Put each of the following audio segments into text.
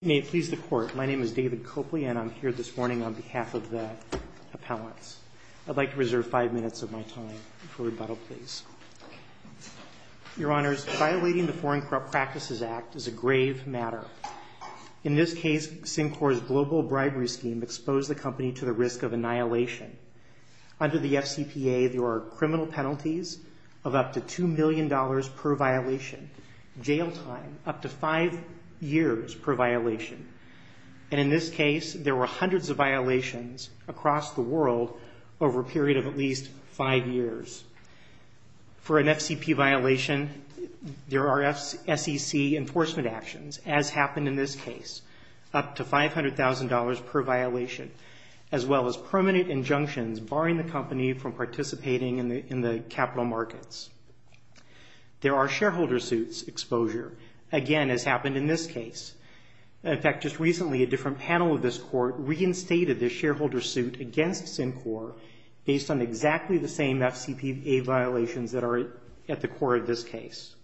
May it please the Court, my name is David Copley and I'm here this morning on behalf of the appellants. I'd like to reserve five minutes of my time for rebuttal, please. Your Honors, violating the Foreign Corrupt Practices Act is a grave matter. In this case, Syncor's global bribery scheme exposed the company to the risk of annihilation. Under the FCPA, there are criminal penalties of up to $2 million per violation, jail time up to five years per violation, and in this case, there were hundreds of violations across the world over a period of at least five years. For an FCPA violation, there are SEC enforcement actions, as happened in this case, up to $500,000 per violation, as well as permanent injunctions barring the company from participating in the capital markets. There are shareholder suits exposure, again, as happened in this case. In fact, just recently, a different panel of this Court reinstated the shareholder suit against Syncor based on exactly the same FCPA violations that are at the core of this case.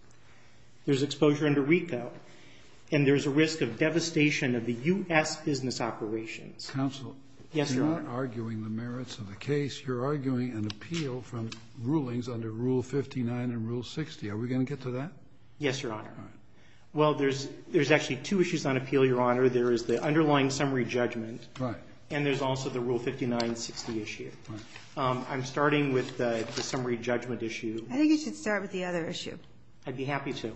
There's exposure under RICO, and there's a risk of devastation of the U.S. business operations. Counsel. Yes, Your Honor. You're not arguing the merits of the case. You're arguing an appeal from rulings under Rule 59 and Rule 60. Are we going to get to that? Yes, Your Honor. All right. Well, there's actually two issues on appeal, Your Honor. There is the underlying summary judgment. Right. And there's also the Rule 59 and 60 issue. Right. I'm starting with the summary judgment issue. I think you should start with the other issue. I'd be happy to.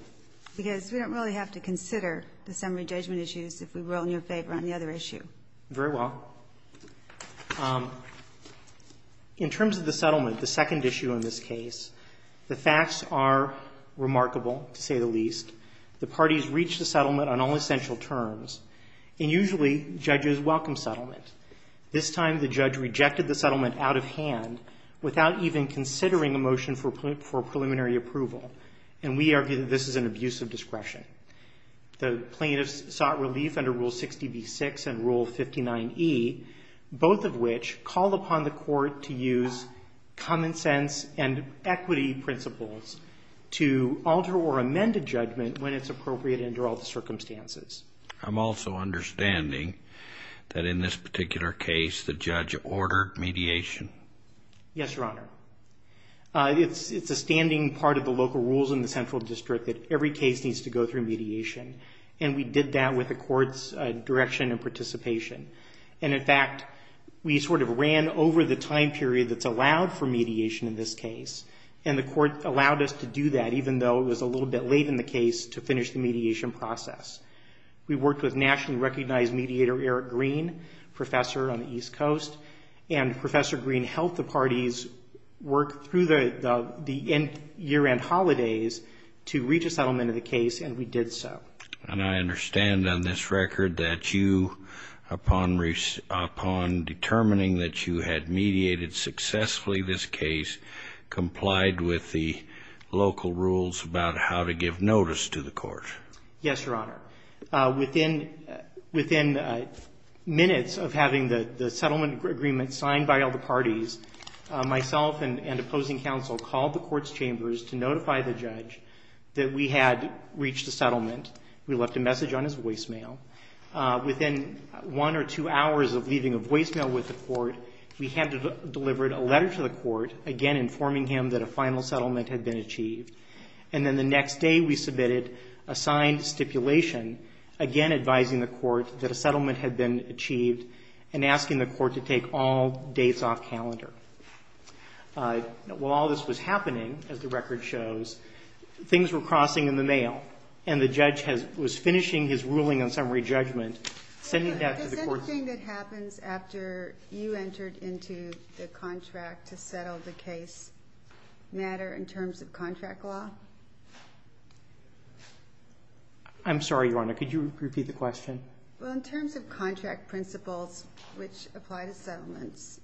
Because we don't really have to consider the summary judgment issues if we rule in your favor on the other issue. Very well. In terms of the settlement, the second issue in this case, the facts are remarkable, to say the least. The parties reached a settlement on all essential terms, and usually judges welcome settlement. This time the judge rejected the settlement out of hand without even considering a motion for preliminary approval, and we argue that this is an abuse of discretion. The plaintiffs sought relief under Rule 60b-6 and Rule 59e, both of which called upon the court to use common sense and equity principles to alter or amend a judgment when it's appropriate under all the circumstances. I'm also understanding that in this particular case the judge ordered mediation. Yes, Your Honor. It's a standing part of the local rules in the Central District that every case needs to go through mediation, and we did that with the court's direction and participation. And, in fact, we sort of ran over the time period that's allowed for mediation in this case, and the court allowed us to do that even though it was a little bit late in the case to finish the mediation process. We worked with nationally recognized mediator Eric Green, professor on the East Coast, and Professor Green helped the parties work through the year-end holidays to reach a settlement in the case, and we did so. And I understand on this record that you, upon determining that you had mediated successfully this case, complied with the local rules about how to give notice to the court. Yes, Your Honor. Within minutes of having the settlement agreement signed by all the parties, myself and opposing counsel called the court's chambers to notify the judge that we had reached a settlement. We left a message on his voicemail. Within one or two hours of leaving a voicemail with the court, we had delivered a letter to the court, again informing him that a final settlement had been achieved. And then the next day we submitted a signed stipulation, again advising the court that a settlement had been achieved and asking the court to take all dates off calendar. While all this was happening, as the record shows, things were crossing in the mail, and the judge was finishing his ruling on summary judgment, sending that to the court. Does anything that happens after you entered into the contract to settle the case matter in terms of contract law? I'm sorry, Your Honor. Could you repeat the question? Well, in terms of contract principles which apply to settlements,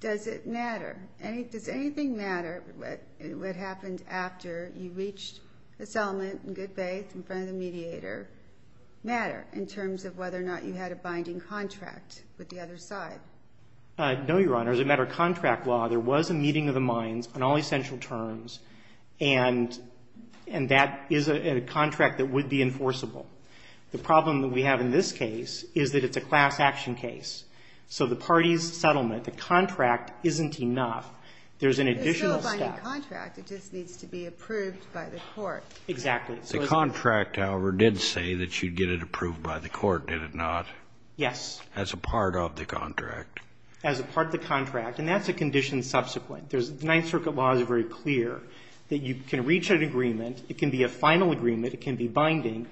does it matter? Does anything matter? What happened after you reached a settlement in good faith in front of the mediator matter in terms of whether or not you had a binding contract with the other side? No, Your Honor. As a matter of contract law, there was a meeting of the minds on all essential terms, and that is a contract that would be enforceable. The problem that we have in this case is that it's a class action case. So the party's settlement, the contract, isn't enough. There's an additional step. It's still a binding contract. It just needs to be approved by the court. Exactly. The contract, however, did say that you'd get it approved by the court, did it not? Yes. As a part of the contract. As a part of the contract, and that's a condition subsequent. Ninth Circuit laws are very clear that you can reach an agreement. It can be a final agreement. It can be binding,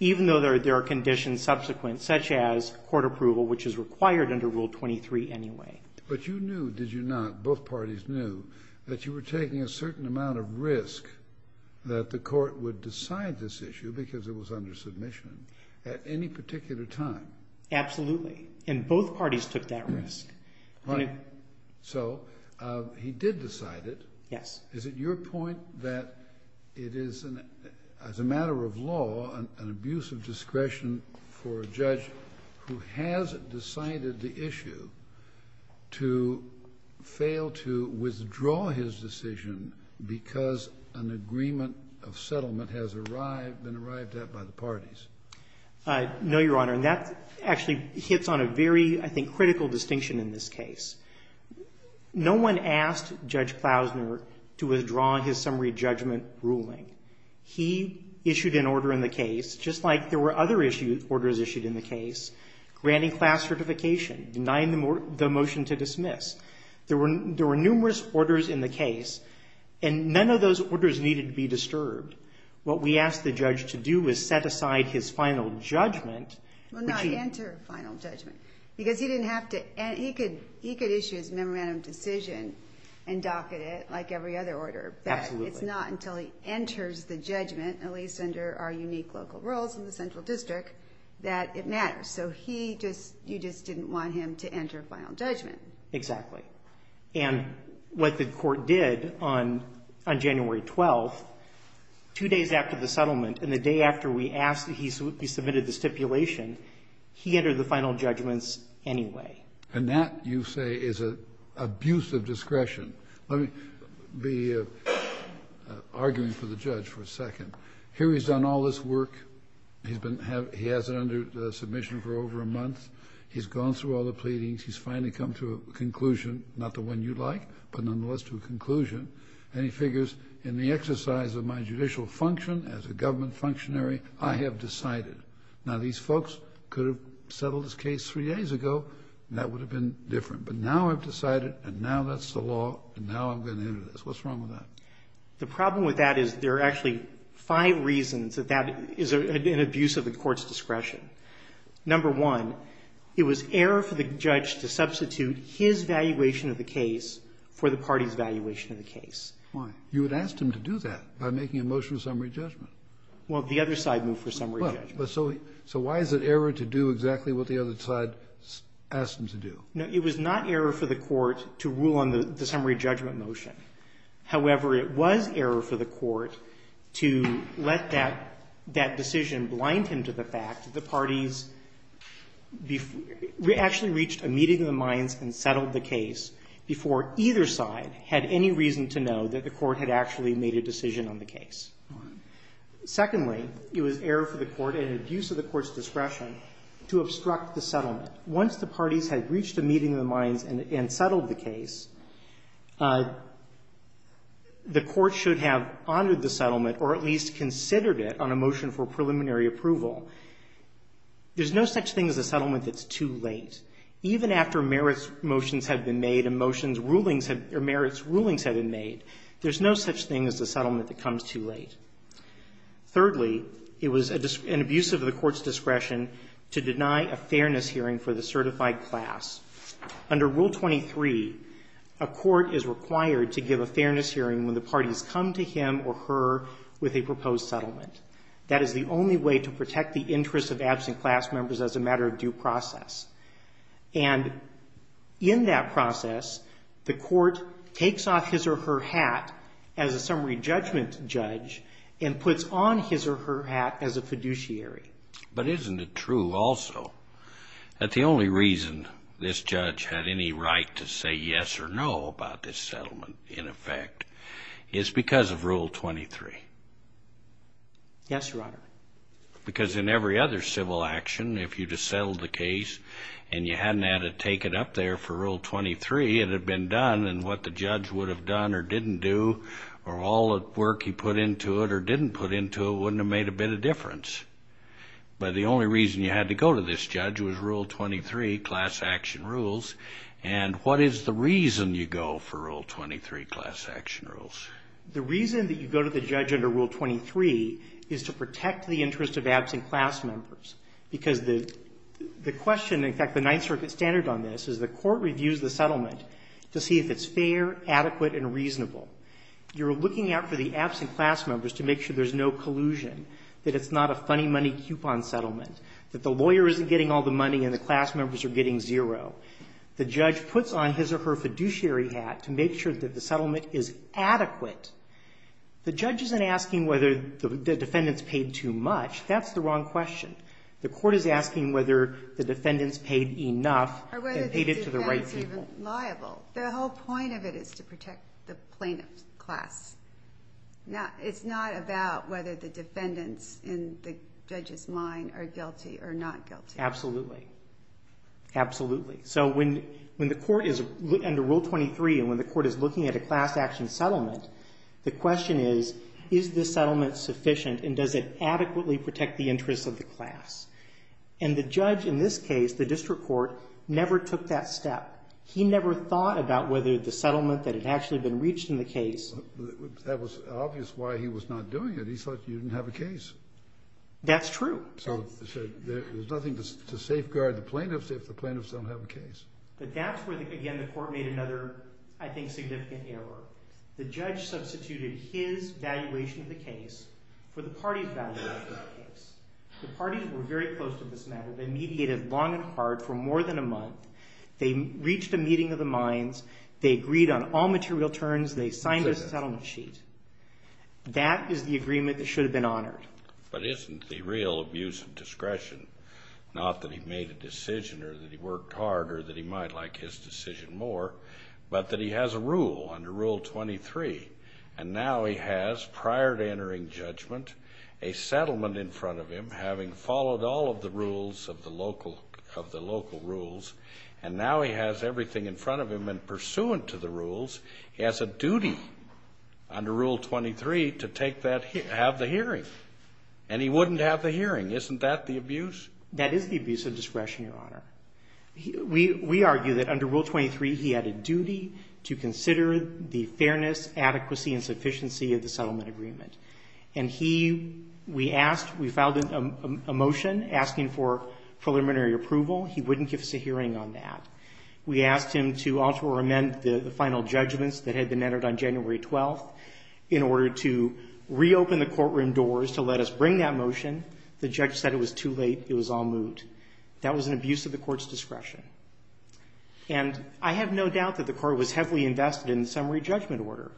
even though there are conditions subsequent, such as court approval, which is required under Rule 23 anyway. But you knew, did you not, both parties knew, that you were taking a certain amount of risk that the court would decide this issue, because it was under submission, at any particular time? Absolutely. And both parties took that risk. Right. So he did decide it. Yes. Is it your point that it is, as a matter of law, an abuse of discretion for a judge who has decided the issue to fail to withdraw his decision because an agreement of settlement has arrived, been arrived at by the parties? No, Your Honor. And that actually hits on a very, I think, critical distinction in this case. No one asked Judge Klausner to withdraw his summary judgment ruling. He issued an order in the case, just like there were other orders issued in the case, granting class certification, denying the motion to dismiss. There were numerous orders in the case, and none of those orders needed to be disturbed. What we asked the judge to do was set aside his final judgment. Well, not enter final judgment, because he didn't have to. He could issue his memorandum decision and docket it, like every other order. Absolutely. And it's not until he enters the judgment, at least under our unique local rules in the central district, that it matters. So he just you just didn't want him to enter final judgment. Exactly. And what the Court did on January 12th, two days after the settlement and the day after we asked that he submitted the stipulation, he entered the final judgments And that, you say, is an abuse of discretion. Let me be arguing for the judge for a second. Here he's done all this work. He has it under submission for over a month. He's gone through all the pleadings. He's finally come to a conclusion, not the one you'd like, but nonetheless to a conclusion. And he figures, in the exercise of my judicial function as a government functionary, I have decided. Now, these folks could have settled this case three days ago, and that would have been different. But now I've decided, and now that's the law, and now I'm going to enter this. What's wrong with that? The problem with that is there are actually five reasons that that is an abuse of the Court's discretion. Number one, it was error for the judge to substitute his valuation of the case for the party's valuation of the case. Why? You had asked him to do that by making a motion of summary judgment. Well, the other side moved for summary judgment. Well, but so why is it error to do exactly what the other side asked him to do? No, it was not error for the Court to rule on the summary judgment motion. However, it was error for the Court to let that decision blind him to the fact that the parties actually reached a meeting of the minds and settled the case before either side had any reason to know that the Court had actually made a decision on the case. Secondly, it was error for the Court, an abuse of the Court's discretion, to obstruct the settlement. Once the parties had reached a meeting of the minds and settled the case, the Court should have honored the settlement or at least considered it on a motion for preliminary approval. There's no such thing as a settlement that's too late. Even after merits motions had been made and motions rulings had been made, there's no such thing as a settlement that comes too late. Thirdly, it was an abuse of the Court's discretion to deny a fairness hearing for the certified class. Under Rule 23, a court is required to give a fairness hearing when the parties come to him or her with a proposed settlement. That is the only way to protect the interests of absent class members as a matter of due process. And in that process, the Court takes off his or her hat as a summary judgment judge and puts on his or her hat as a fiduciary. But isn't it true also that the only reason this judge had any right to say yes or no about this settlement, in effect, is because of Rule 23? Yes, Your Honor. Because in every other civil action, if you'd have settled the case and you hadn't had to take it up there for Rule 23, it had been done. And what the judge would have done or didn't do or all the work he put into it or didn't put into it wouldn't have made a bit of difference. But the only reason you had to go to this judge was Rule 23, class action rules. And what is the reason you go for Rule 23, class action rules? The reason that you go to the judge under Rule 23 is to protect the interests of absent class members. Because the question, in fact, the Ninth Circuit standard on this is the Court reviews the settlement to see if it's fair, adequate and reasonable. You're looking out for the absent class members to make sure there's no collusion, that it's not a funny money coupon settlement, that the lawyer isn't getting all the money and the class members are getting zero. The judge puts on his or her fiduciary hat to make sure that the settlement is adequate. The judge isn't asking whether the defendants paid too much. That's the wrong question. The Court is asking whether the defendants paid enough and paid it to the right people. The whole point of it is to protect the plaintiff's class. It's not about whether the defendants in the judge's mind are guilty or not guilty. Absolutely. Absolutely. So when the Court is under Rule 23 and when the Court is looking at a class action settlement, the question is, is the settlement sufficient and does it adequately protect the interests of the class? And the judge in this case, the district court, never took that step. He never thought about whether the settlement that had actually been reached in the case. That was obvious why he was not doing it. He thought you didn't have a case. That's true. So there's nothing to safeguard the plaintiffs if the plaintiffs don't have a case. But that's where, again, the Court made another, I think, significant error. The judge substituted his valuation of the case for the party's valuation of the case. The parties were very close to this matter. They mediated long and hard for more than a month. They reached a meeting of the minds. They agreed on all material terms. They signed a settlement sheet. That is the agreement that should have been honored. But isn't the real abuse of discretion not that he made a decision or that he worked hard or that he might like his decision more but that he has a rule under Rule 23? And now he has, prior to entering judgment, a settlement in front of him, having followed all of the rules of the local rules, and now he has everything in front of him. And pursuant to the rules, he has a duty under Rule 23 to take that, have the hearing. And he wouldn't have the hearing. Isn't that the abuse? That is the abuse of discretion, Your Honor. We argue that under Rule 23, he had a duty to consider the fairness, adequacy and sufficiency of the settlement agreement. And he, we asked, we filed a motion asking for preliminary approval. He wouldn't give us a hearing on that. We asked him to alter or amend the final judgments that had been entered on January 12th in order to reopen the courtroom doors to let us bring that motion. The judge said it was too late. It was all moot. That was an abuse of the court's discretion. And I have no doubt that the court was heavily invested in the summary judgment order.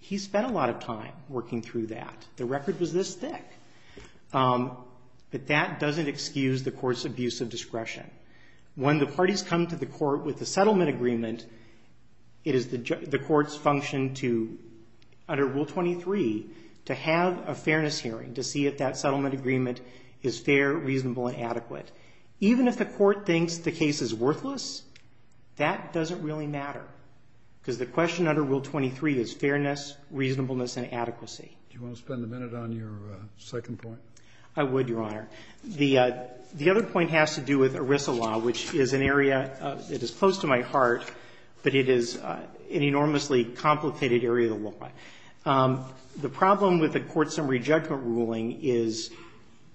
He spent a lot of time working through that. The record was this thick. But that doesn't excuse the court's abuse of discretion. When the parties come to the court with a settlement agreement, it is the court's function to, under Rule 23, to have a fairness hearing to see if that settlement is reasonable and adequate. Even if the court thinks the case is worthless, that doesn't really matter, because the question under Rule 23 is fairness, reasonableness and adequacy. Do you want to spend a minute on your second point? I would, Your Honor. The other point has to do with ERISA law, which is an area that is close to my heart, but it is an enormously complicated area of the law. The problem with the court's summary judgment ruling is,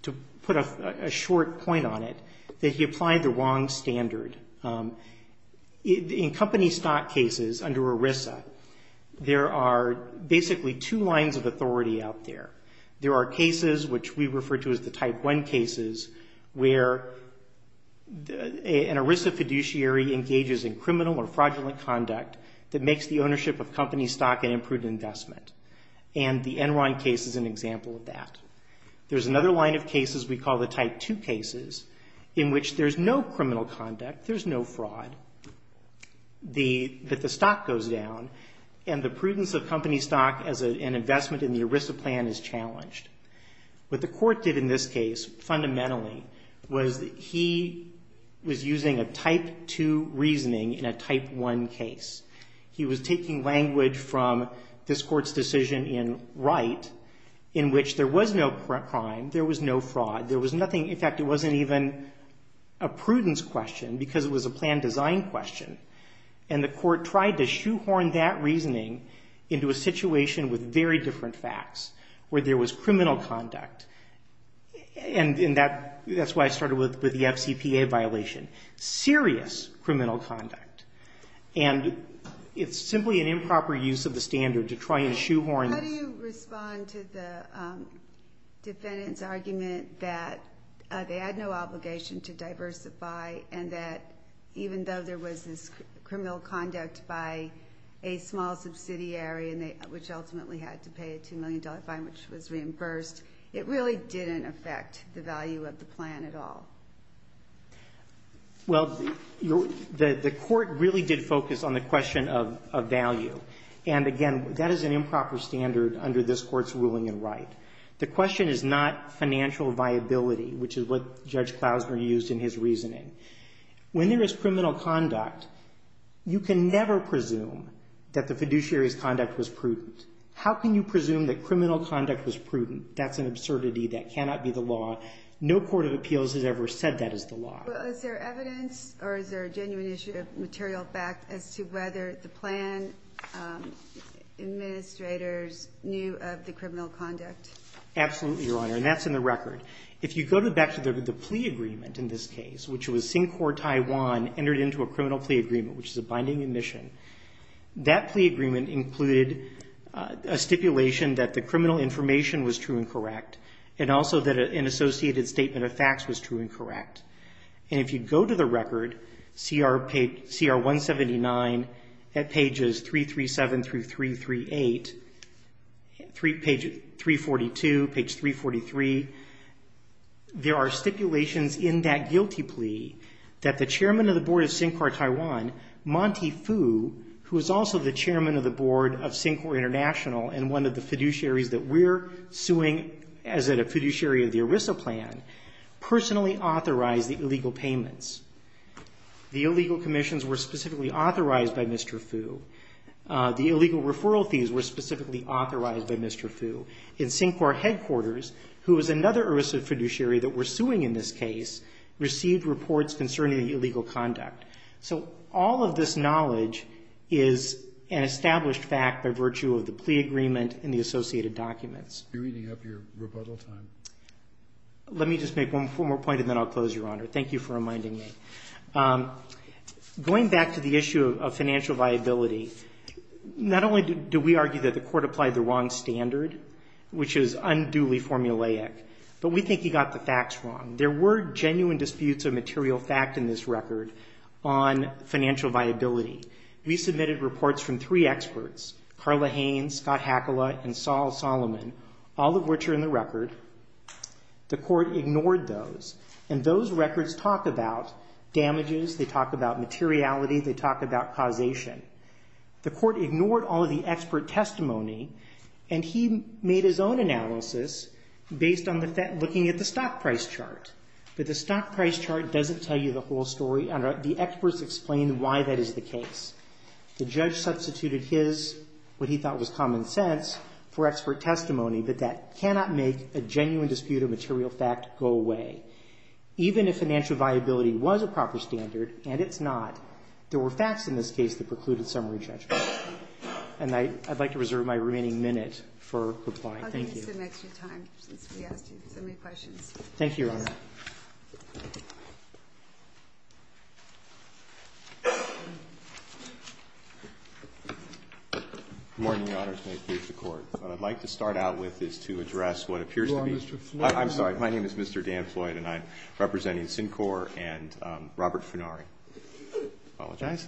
to put a short point on it, that he applied the wrong standard. In company stock cases under ERISA, there are basically two lines of authority out there. There are cases, which we refer to as the Type 1 cases, where an ERISA fiduciary engages in criminal or fraudulent conduct that makes the ownership of company stock a legitimate investment, and the Enron case is an example of that. There's another line of cases we call the Type 2 cases, in which there's no criminal conduct, there's no fraud, that the stock goes down, and the prudence of company stock as an investment in the ERISA plan is challenged. What the court did in this case, fundamentally, was that he was using a Type 2 reasoning in a Type 1 case. He was taking language from this court's decision in Wright, in which there was no crime, there was no fraud, there was nothing. In fact, it wasn't even a prudence question, because it was a plan design question, and the court tried to shoehorn that reasoning into a situation with very different facts, where there was criminal conduct, and that's why I started with the FCPA violation, serious criminal conduct. And it's simply an improper use of the standard to try and shoehorn this. How do you respond to the defendant's argument that they had no obligation to diversify, and that even though there was this criminal conduct by a small subsidiary, which ultimately had to pay a $2 million fine, which was reimbursed, it really didn't affect the value of the plan at all? Well, the court really did focus on the question of value. And again, that is an improper standard under this court's ruling in Wright. The question is not financial viability, which is what Judge Klausner used in his reasoning. When there is criminal conduct, you can never presume that the fiduciary's conduct was prudent. How can you presume that criminal conduct was prudent? That's an absurdity. That cannot be the law. No court of appeals has ever said that is the law. Well, is there evidence, or is there a genuine issue of material fact as to whether the plan administrators knew of the criminal conduct? Absolutely, Your Honor, and that's in the record. If you go back to the plea agreement in this case, which was Sinkhore, Taiwan, entered into a criminal plea agreement, which is a binding admission, that plea agreement included a stipulation that the criminal information was true and correct, and also that an associated statement of facts was true and correct. And if you go to the record, CR 179 at pages 337 through 338, page 342, page 343, there are stipulations in that guilty plea that the chairman of the board of Sinkhore, Taiwan, Monty Fu, who is also the chairman of the board of Sinkhore International and one of the fiduciaries that we're suing as a fiduciary of the ERISA plan, personally authorized the illegal payments. The illegal commissions were specifically authorized by Mr. Fu. The illegal referral fees were specifically authorized by Mr. Fu. And Sinkhore headquarters, who is another ERISA fiduciary that we're suing in this case, received reports concerning the illegal conduct. So all of this knowledge is an established fact by virtue of the plea agreement and the associated documents. You're eating up your rebuttal time. Let me just make one more point and then I'll close, Your Honor. Thank you for reminding me. Going back to the issue of financial viability, not only do we argue that the court applied the wrong standard, which is unduly formulaic, but we think he got the facts wrong. There were genuine disputes of material fact in this record on financial viability. We submitted reports from three experts, Carla Haynes, Scott Hakala, and Saul Solomon, all of which are in the record. The court ignored those, and those records talk about damages. They talk about materiality. They talk about causation. The court ignored all of the expert testimony, and he made his own analysis based on looking at the stock price chart. But the stock price chart doesn't tell you the whole story. The experts explain why that is the case. The judge substituted his, what he thought was common sense, for expert testimony, but that cannot make a genuine dispute of material fact go away. Even if financial viability was a proper standard, and it's not, there were facts in this case that precluded summary judgment. Thank you. I'm going to give you some extra time since we asked you so many questions. Thank you, Your Honor. Good morning, Your Honors. May it please the Court. What I'd like to start out with is to address what appears to be- You are Mr. Floyd. I'm sorry. My name is Mr. Dan Floyd, and I'm representing Syncor and Robert Funari. Apologize.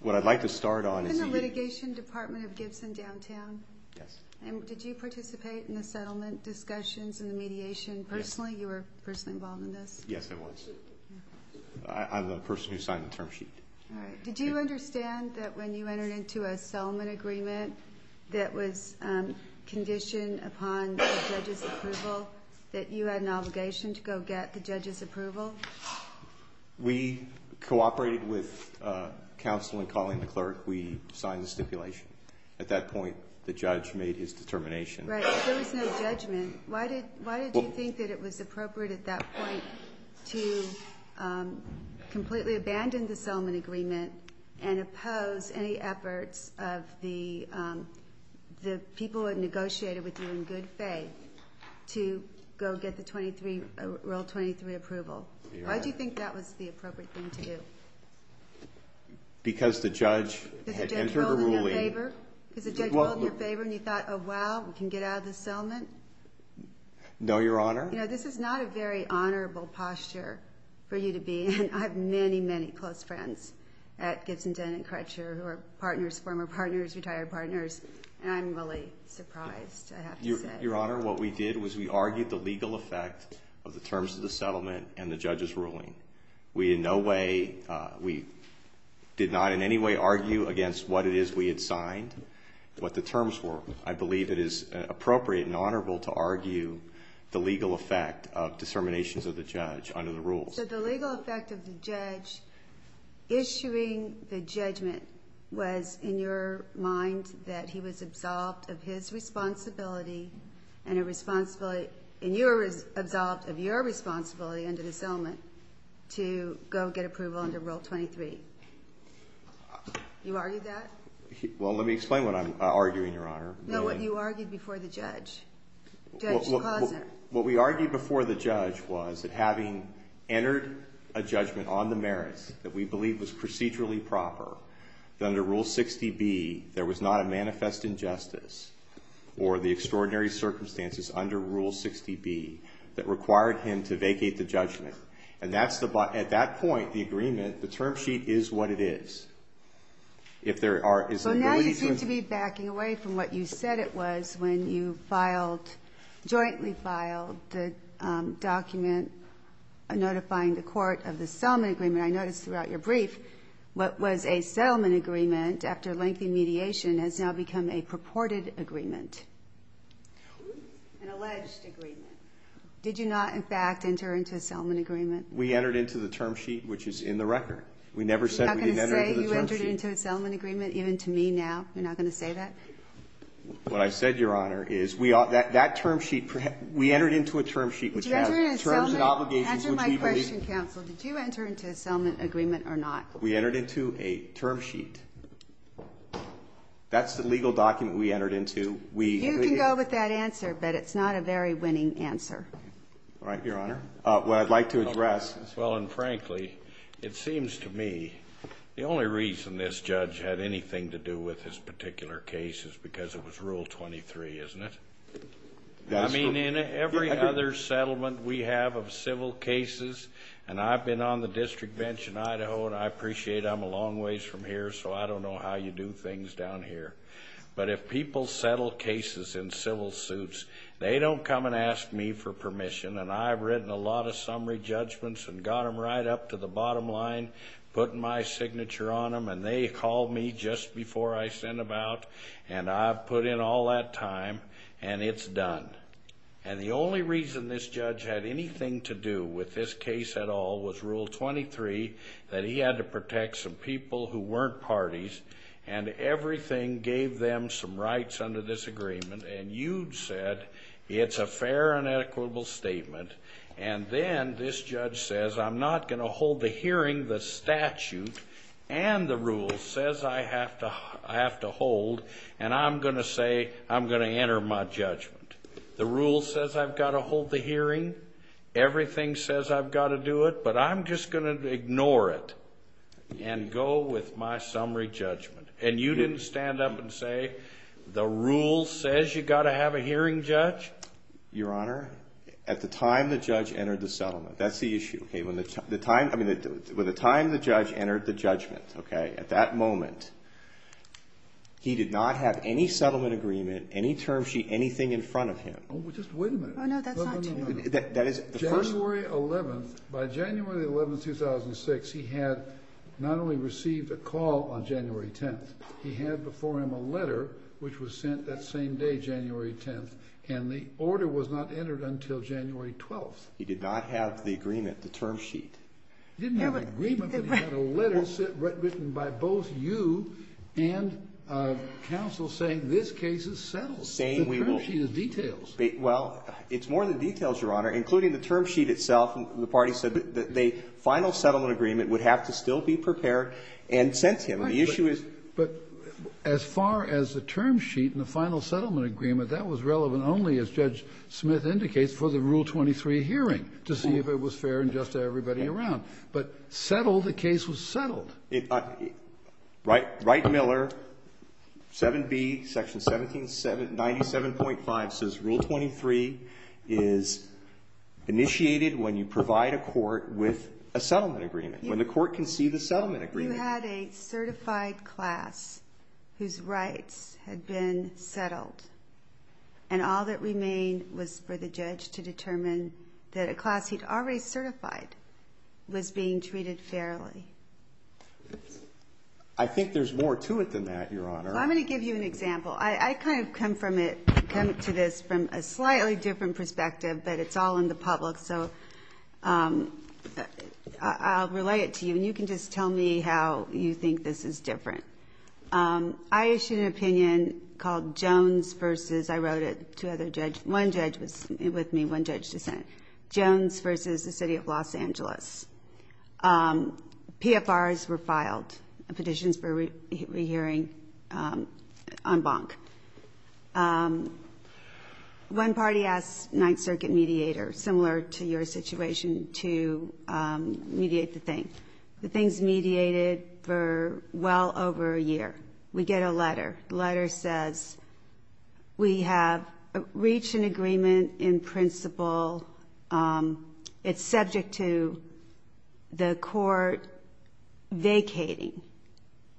What I'd like to start on is- In the litigation department of Gibson downtown. Yes. Did you participate in the settlement discussions and the mediation personally? Yes. You were personally involved in this? Yes, I was. I'm the person who signed the term sheet. All right. Did you understand that when you entered into a settlement agreement that was conditioned upon the judge's approval, that you had an obligation to go get the judge's approval? We cooperated with counsel in calling the clerk. We signed the stipulation. At that point, the judge made his determination. Right. If there was no judgment, why did you think that it was appropriate at that point to completely abandon the settlement agreement and oppose any efforts of the people who had negotiated with you in good faith to go get Rule 23 approval? Why did you think that was the appropriate thing to do? Because the judge had entered the ruling- Because the judge rolled in your favor? Because the judge rolled in your favor and you thought, oh, wow, we can get out of this settlement? No, Your Honor. You know, this is not a very honorable posture for you to be in. I have many, many close friends at Gibson Dent and Crutcher who are partners, former partners, retired partners, and I'm really surprised, I have to say. Your Honor, what we did was we argued the legal effect of the terms of the settlement and the judge's ruling. We in no way, we did not in any way argue against what it is we had signed, what the terms were. I believe it is appropriate and honorable to argue the legal effect of disseminations of the judge under the rules. So the legal effect of the judge issuing the judgment was, in your mind, that he was absolved of his responsibility and you were absolved of your responsibility under the settlement to go get approval under Rule 23. You argued that? Well, let me explain what I'm arguing, Your Honor. No, what you argued before the judge. What we argued before the judge was that having entered a judgment on the merits that we believe was procedurally proper, that under Rule 60B there was not a manifest injustice or the extraordinary circumstances under Rule 60B that required him to vacate the judgment. And at that point, the agreement, the term sheet is what it is. So now you seem to be backing away from what you said it was when you filed, jointly filed the document notifying the court of the settlement agreement. I noticed throughout your brief what was a settlement agreement after lengthy mediation has now become a purported agreement, an alleged agreement. Did you not, in fact, enter into a settlement agreement? We entered into the term sheet, which is in the record. We never said we didn't enter into the term sheet. You're not going to say you entered into a settlement agreement, even to me now? You're not going to say that? What I said, Your Honor, is we are that term sheet, we entered into a term sheet which has terms and obligations which we believe. Answer my question, counsel. Did you enter into a settlement agreement or not? We entered into a term sheet. That's the legal document we entered into. You can go with that answer, but it's not a very winning answer. All right, Your Honor. What I'd like to address is. Well, and frankly, it seems to me the only reason this judge had anything to do with this particular case is because it was Rule 23, isn't it? I mean, in every other settlement we have of civil cases, and I've been on the district bench in Idaho, and I appreciate I'm a long ways from here, so I don't know how you do things down here. But if people settle cases in civil suits, they don't come and ask me for permission, and I've written a lot of summary judgments and got them right up to the bottom line, put my signature on them, and they call me just before I send them out, and I've put in all that time, and it's done. And the only reason this judge had anything to do with this case at all was Rule 23, that he had to protect some people who weren't parties, and everything gave them some rights under this agreement, and you said it's a fair and equitable statement, and then this judge says I'm not going to hold the hearing. The statute and the rules says I have to hold, and I'm going to say I'm going to enter my judgment. The rule says I've got to hold the hearing. Everything says I've got to do it, but I'm just going to ignore it and go with my summary judgment. And you didn't stand up and say the rule says you've got to have a hearing, Judge? Your Honor, at the time the judge entered the settlement, that's the issue, okay? When the time the judge entered the judgment, okay, at that moment, he did not have any settlement agreement, any term sheet, anything in front of him. Just wait a minute. Oh, no, that's not true. January 11th, by January 11th, 2006, he had not only received a call on January 10th, he had before him a letter which was sent that same day, January 10th, and the order was not entered until January 12th. He did not have the agreement, the term sheet. He didn't have an agreement, but he had a letter written by both you and counsel saying this case is settled. The term sheet is details. Well, it's more than details, Your Honor, including the term sheet itself. The party said that the final settlement agreement would have to still be prepared and sent to him. The issue is as far as the term sheet and the final settlement agreement, that was relevant only, as Judge Smith indicates, for the Rule 23 hearing to see if it was fair and just to everybody around. But settled, the case was settled. Wright Miller, 7B, Section 97.5, says, Rule 23 is initiated when you provide a court with a settlement agreement, when the court can see the settlement agreement. You had a certified class whose rights had been settled, and all that remained was for the judge to determine that a class he'd already certified was being treated fairly. I think there's more to it than that, Your Honor. I'm going to give you an example. I kind of come from it, come to this from a slightly different perspective, but it's all in the public, so I'll relay it to you, and you can just tell me how you think this is different. I issued an opinion called Jones v. I wrote it to other judges. One judge was with me, one judge dissented. Jones v. The City of Los Angeles. PFRs were filed, petitions for re-hearing en banc. One party asked Ninth Circuit mediator, similar to your situation, to mediate the thing. The thing's mediated for well over a year. We get a letter. The letter says we have reached an agreement in principle. It's subject to the court vacating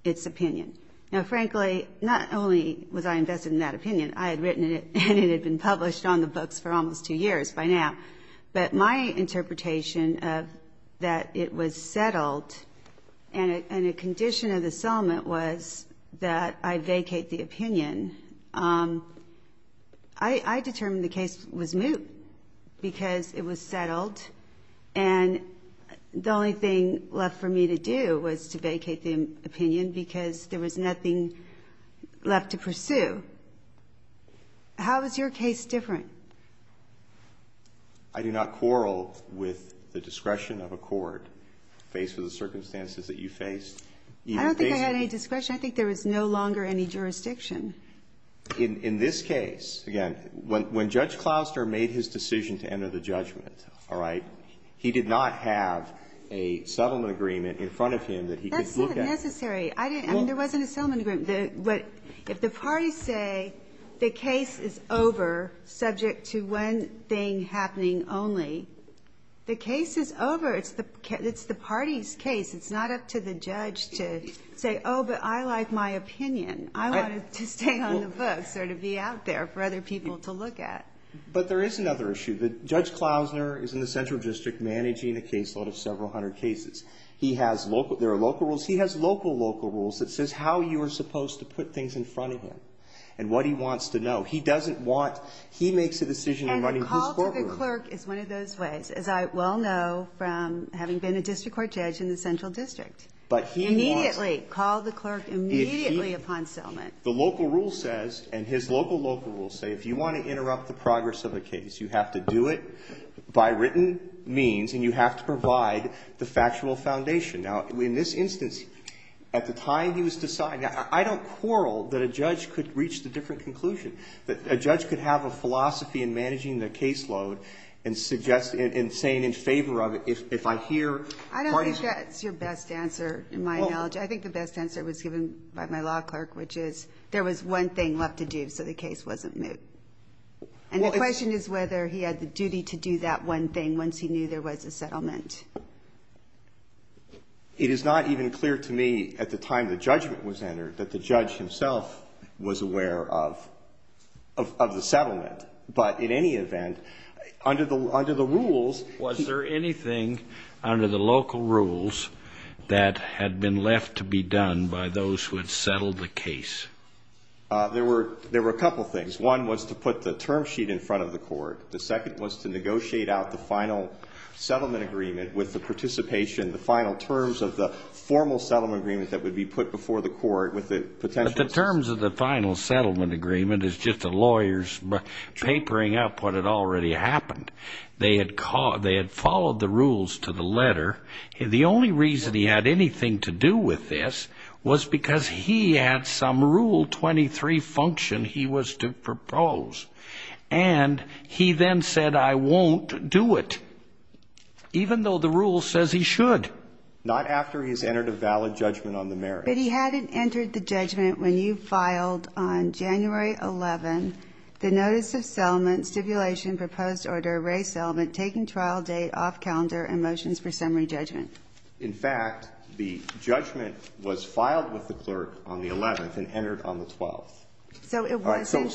its opinion. Now, frankly, not only was I invested in that opinion, I had written it, and it had been published on the books for almost two years by now. But my interpretation of that it was settled and a condition of the settlement was that I vacate the opinion. I determined the case was moot because it was settled, and the only thing left for me to do was to vacate the opinion because there was nothing left to pursue. How is your case different? I do not quarrel with the discretion of a court faced with the circumstances that you faced. I don't think I had any discretion. I think there was no longer any jurisdiction. In this case, again, when Judge Clouster made his decision to enter the judgment, all right, he did not have a settlement agreement in front of him that he could look at. That's not necessary. I mean, there wasn't a settlement agreement. If the parties say the case is over subject to one thing happening only, the case is over. It's the party's case. It's not up to the judge to say, oh, but I like my opinion. I wanted to stay on the books or to be out there for other people to look at. But there is another issue. Judge Clousner is in the central district managing a caseload of several hundred cases. There are local rules. He has local, local rules that says how you are supposed to put things in front of him and what he wants to know. He doesn't want to make a decision in running his courtroom. Morgan Clerk is one of those ways, as I well know from having been a district court judge in the central district. But he wants to immediately call the clerk immediately upon settlement. The local rule says, and his local, local rules say, if you want to interrupt the progress of a case, you have to do it by written means and you have to provide the factual foundation. Now, in this instance, at the time he was deciding, I don't quarrel that a judge could reach the different conclusion, that a judge could have a philosophy in managing the caseload and saying in favor of it if I hear part of it. I don't think that's your best answer in my knowledge. I think the best answer was given by my law clerk, which is there was one thing left to do so the case wasn't moved. And the question is whether he had the duty to do that one thing once he knew there was a settlement. It is not even clear to me at the time the judgment was entered that the judge himself was aware of the settlement. But in any event, under the rules. Was there anything under the local rules that had been left to be done by those who had settled the case? There were a couple things. One was to put the term sheet in front of the court. The second was to negotiate out the final settlement agreement with the participation, the final terms of the formal settlement agreement that would be But the terms of the final settlement agreement is just the lawyers papering up what had already happened. They had followed the rules to the letter. The only reason he had anything to do with this was because he had some Rule 23 function he was to propose. And he then said, I won't do it. Even though the rule says he should. Not after he has entered a valid judgment on the merits. But he hadn't entered the judgment when you filed on January 11, the notice of settlement, stipulation, proposed order, raised settlement, taking trial date, off calendar, and motions for summary judgment. In fact, the judgment was filed with the clerk on the 11th and entered on the 12th. So it wasn't entered.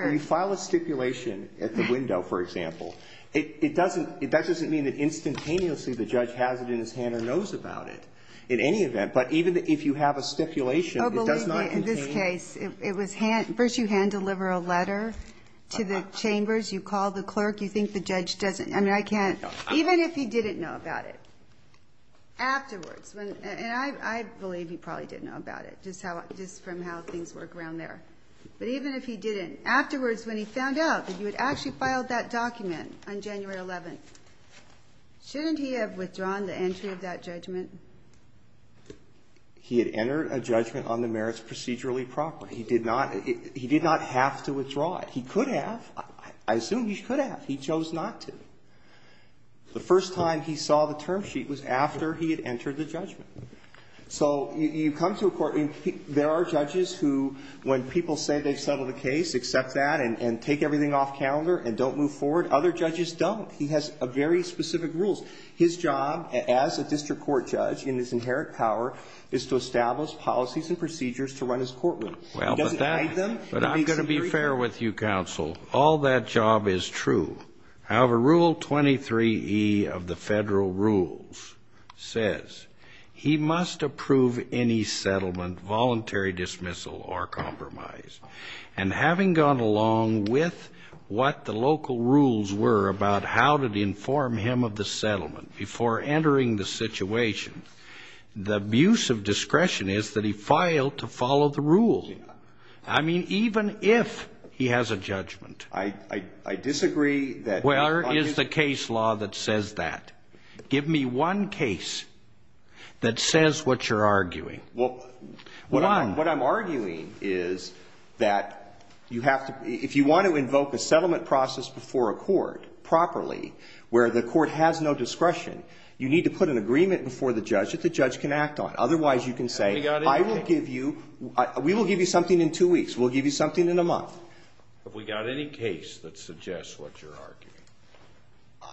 So you file a stipulation at the window, for example. It doesn't, that doesn't mean that instantaneously the judge has it in his hand or knows about it in any event. But even if you have a stipulation, it does not contain. In this case, it was hand, first you hand deliver a letter to the chambers. You call the clerk. You think the judge doesn't. I mean, I can't. Even if he didn't know about it. Afterwards. And I believe he probably didn't know about it. Just how, just from how things work around there. But even if he didn't. And afterwards, when he found out that you had actually filed that document on January 11th, shouldn't he have withdrawn the entry of that judgment? He had entered a judgment on the merits procedurally proper. He did not, he did not have to withdraw it. He could have. I assume he could have. He chose not to. The first time he saw the term sheet was after he had entered the judgment. So you come to a court and there are judges who, when people say they've settled a case, accept that and take everything off calendar and don't move forward. Other judges don't. He has very specific rules. His job as a district court judge in his inherent power is to establish policies and procedures to run his courtroom. He doesn't hide them. But I'm going to be fair with you, counsel. All that job is true. However, Rule 23e of the Federal Rules says he must approve any settlement, voluntary dismissal or compromise. And having gone along with what the local rules were about how to inform him of the settlement before entering the situation, the abuse of discretion is that he filed to follow the rules. I mean, even if he has a judgment. I disagree. Where is the case law that says that? Give me one case that says what you're arguing. Well, what I'm arguing is that you have to, if you want to invoke a settlement process before a court properly where the court has no discretion, you need to put an agreement before the judge that the judge can act on. Otherwise, you can say, I will give you, we will give you something in two weeks. We'll give you something in a month. Have we got any case that suggests what you're arguing?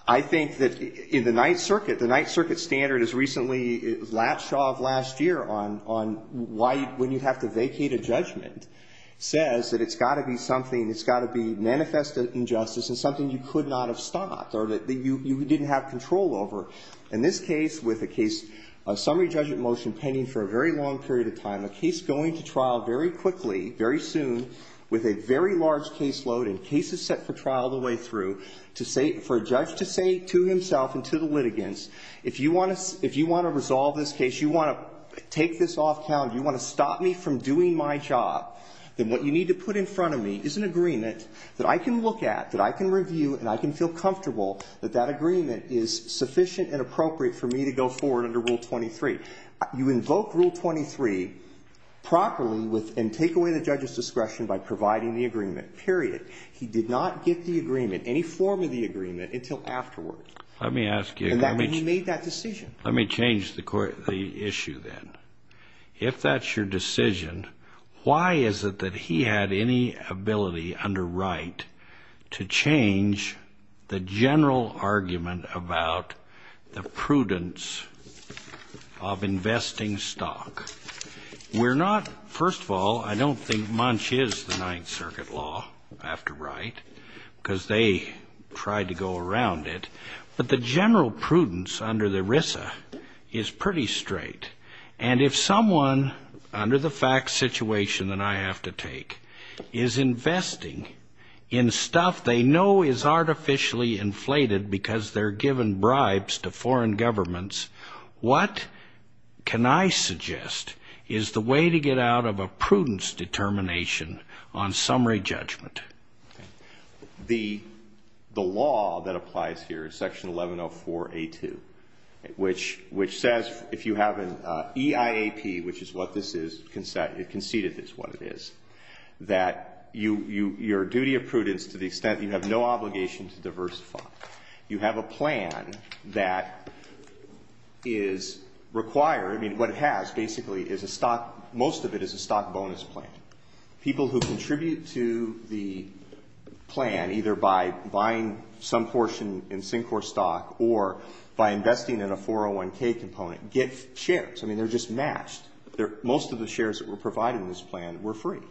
I think that in the Ninth Circuit, the Ninth Circuit standard is recently, last year on why, when you have to vacate a judgment, says that it's got to be something, it's got to be manifest injustice and something you could not have stopped or that you didn't have control over. In this case, with a case, a summary judgment motion pending for a very long period of time, a case going to trial very quickly, very soon, with a very large caseload and cases set for trial the way through, to say, for a judge to say to himself and to the litigants, if you want to resolve this case, you want to take this off calendar, you want to stop me from doing my job, then what you need to put in front of me is an agreement that I can look at, that I can review, and I can feel comfortable that that agreement is sufficient and appropriate for me to go forward under Rule 23. You invoke Rule 23 properly and take away the judge's discretion by providing the agreement, period. He did not get the agreement, any form of the agreement until afterward. Let me ask you. He made that decision. Let me change the issue then. If that's your decision, why is it that he had any ability under Wright to change the general argument about the prudence of investing stock? We're not, first of all, I don't think Munch is the Ninth Circuit law after Wright because they tried to go around it. But the general prudence under the RISA is pretty straight. And if someone, under the facts situation that I have to take, is investing in stuff they know is artificially inflated because they're giving bribes to foreign governments, what can I suggest is the way to get out of a prudence determination on summary judgment? The law that applies here is Section 1104A2, which says if you have an EIAP, which is what this is, conceded it's what it is, that your duty of prudence to the extent you have no obligation to diversify. You have a plan that is required. I mean, what it has basically is a stock, most of it is a stock bonus plan. People who contribute to the plan, either by buying some portion in Syncor stock or by investing in a 401k component, get shares. I mean, they're just matched. Most of the shares that were provided in this plan were free.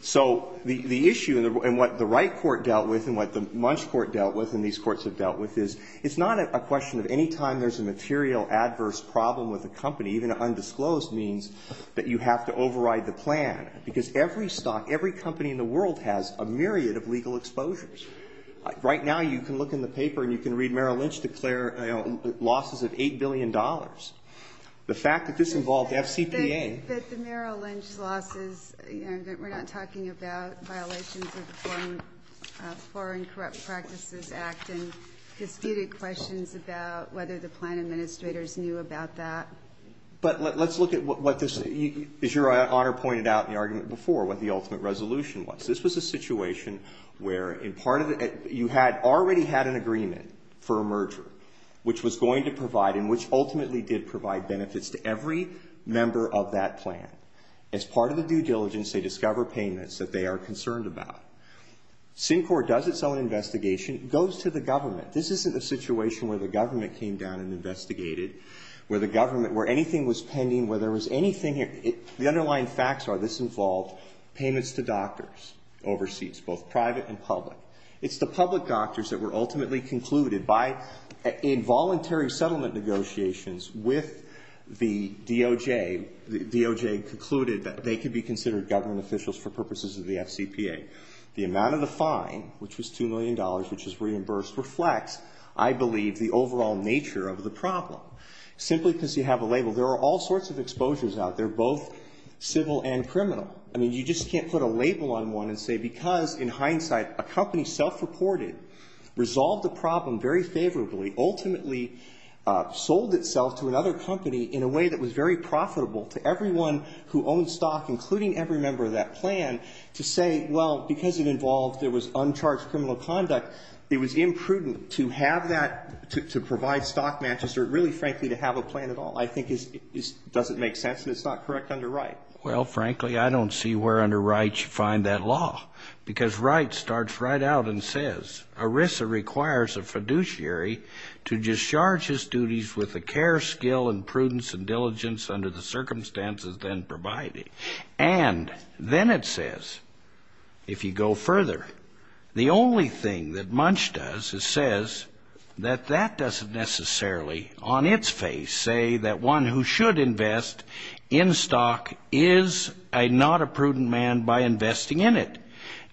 So the issue and what the Wright court dealt with and what the Munch court dealt with and these courts have dealt with is it's not a question of any time there's a material adverse problem with a company, even undisclosed, means that you have to override the plan. Because every stock, every company in the world has a myriad of legal exposures. Right now you can look in the paper and you can read Merrill Lynch declare losses of $8 billion. The fact that this involved FCPA. But the Merrill Lynch losses, we're not talking about violations of the Foreign Corrupt Practices Act and disputed questions about whether the plan administrators knew about that. But let's look at what this, as Your Honor pointed out in the argument before, what the ultimate resolution was. This was a situation where in part of it you had already had an agreement for a merger which was going to provide and which ultimately did provide benefits to every member of that plan. As part of the due diligence they discover payments that they are concerned about. Syncor does its own investigation, goes to the government. This isn't a situation where the government came down and investigated, where the government, where anything was pending, where there was anything, the underlying facts are this involved payments to doctors, oversees both private and public. It's the public doctors that were ultimately concluded by involuntary settlement negotiations with the DOJ. The DOJ concluded that they could be considered government officials for purposes of the FCPA. The amount of the fine, which was $2 million, which was reimbursed, reflects, I believe, the overall nature of the problem. Simply because you have a label. There are all sorts of exposures out there, both civil and criminal. I mean, you just can't put a label on one and say because in hindsight a company self-reported, resolved the problem very favorably, ultimately sold itself to another company in a way that was very profitable to everyone who owned stock, including every member of that plan, to say, well, because it involved, there was uncharged criminal conduct, it was imprudent to have that, to provide stock matches or really frankly to have a plan at all. I think it doesn't make sense and it's not correct under Wright. Well, frankly, I don't see where under Wright you find that law. Because Wright starts right out and says, ERISA requires a fiduciary to discharge his duties with the care, skill, and prudence and diligence under the circumstances then provided. And then it says, if you go further, the only thing that Munch does is says that that doesn't necessarily on its face say that one who should invest in stock is not a fiduciary,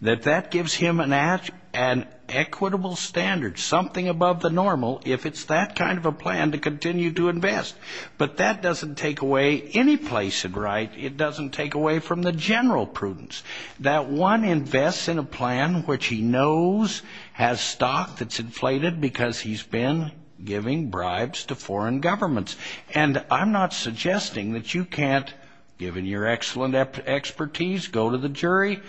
that that gives him an equitable standard, something above the normal, if it's that kind of a plan to continue to invest. But that doesn't take away any place in Wright. It doesn't take away from the general prudence that one invests in a plan which he knows has stock that's inflated because he's been giving bribes to foreign governments. And I'm not suggesting that you can't, given your excellent expertise, go to the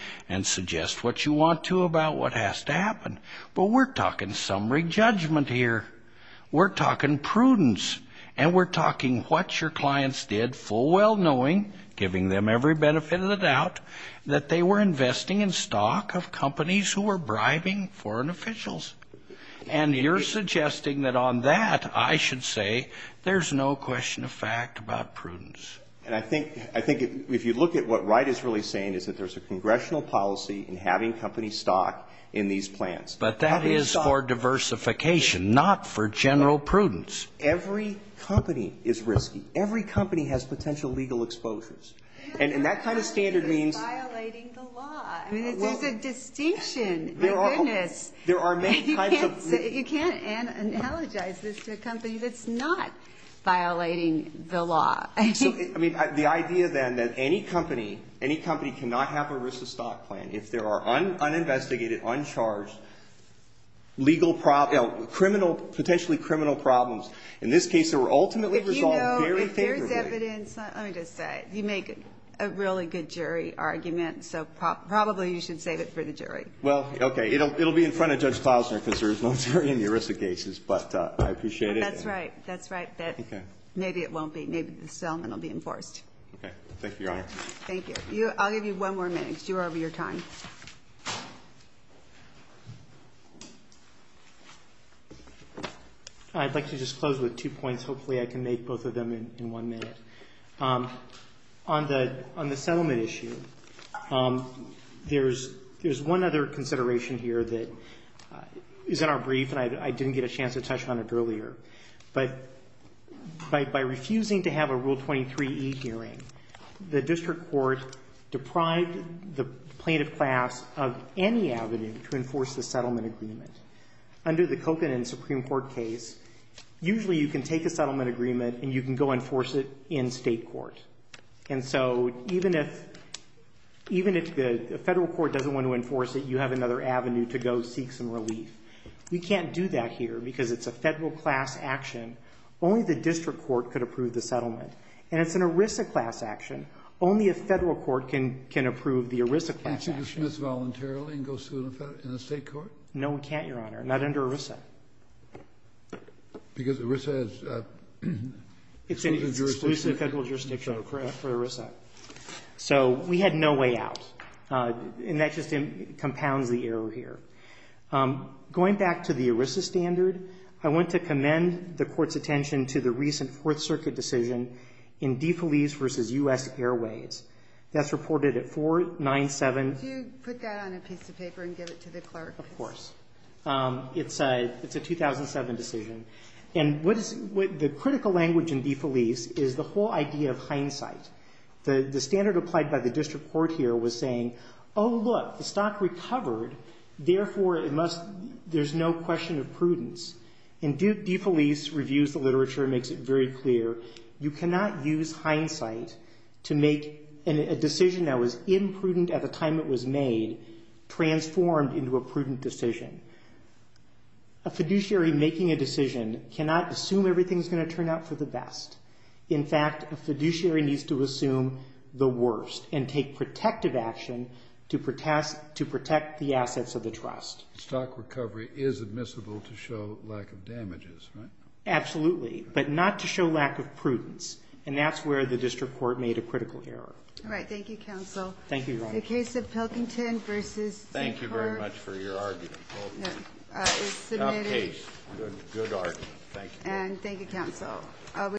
about what has to happen. But we're talking summary judgment here. We're talking prudence. And we're talking what your clients did, full well knowing, giving them every benefit of the doubt, that they were investing in stock of companies who were bribing foreign officials. And you're suggesting that on that, I should say, there's no question of fact about prudence. And I think if you look at what Wright is really saying is that there's a stock in these plans. But that is for diversification, not for general prudence. Every company is risky. Every company has potential legal exposures. And that kind of standard means the law. I mean, there's a distinction. My goodness. There are many kinds of. You can't analogize this to a company that's not violating the law. I mean, the idea then that any company, any company cannot have a risk of stock plan if there are uninvestigated, uncharged, potentially criminal problems. In this case, they were ultimately resolved very favorably. If there's evidence, let me just say, you make a really good jury argument. So probably you should save it for the jury. Well, okay. It'll be in front of Judge Klausner because there's no jury in the ERISA cases. But I appreciate it. That's right. That's right. Maybe it won't be. Maybe the settlement will be enforced. Okay. Thank you, Your Honor. Thank you. I'll give you one more minute because you're over your time. I'd like to just close with two points. Hopefully I can make both of them in one minute. On the settlement issue, there's one other consideration here that is in our brief, and I didn't get a chance to touch on it earlier. But by refusing to have a Rule 23e hearing, the district court deprived the plaintiff class of any avenue to enforce the settlement agreement. Under the Kocan and Supreme Court case, usually you can take a settlement agreement and you can go enforce it in state court. And so even if the federal court doesn't want to enforce it, you have another avenue to go seek some relief. We can't do that here because it's a federal class action. Only the district court could approve the settlement. And it's an ERISA class action. Only a federal court can approve the ERISA class action. Can't you dismiss voluntarily and go sue in a state court? No, we can't, Your Honor. Not under ERISA. Because ERISA has exclusive jurisdiction. It's exclusive federal jurisdiction for ERISA. So we had no way out. And that just compounds the error here. Going back to the ERISA standard, I want to commend the court's attention to the recent Fourth Circuit decision in DeFelice v. U.S. Airways. That's reported at 497. Could you put that on a piece of paper and give it to the clerk? Of course. It's a 2007 decision. And the critical language in DeFelice is the whole idea of hindsight. Therefore, there's no question of prudence. And DeFelice reviews the literature and makes it very clear, you cannot use hindsight to make a decision that was imprudent at the time it was made transformed into a prudent decision. A fiduciary making a decision cannot assume everything's going to turn out for the best. In fact, a fiduciary needs to assume the worst and take protective action to protect the assets of the trust. Stock recovery is admissible to show lack of damages, right? Absolutely. But not to show lack of prudence. And that's where the district court made a critical error. All right. Thank you, counsel. Thank you, Ron. The case of Pilkington v. Thank you very much for your argument. Submitted. Good case. Good argument. Thank you. And thank you, counsel.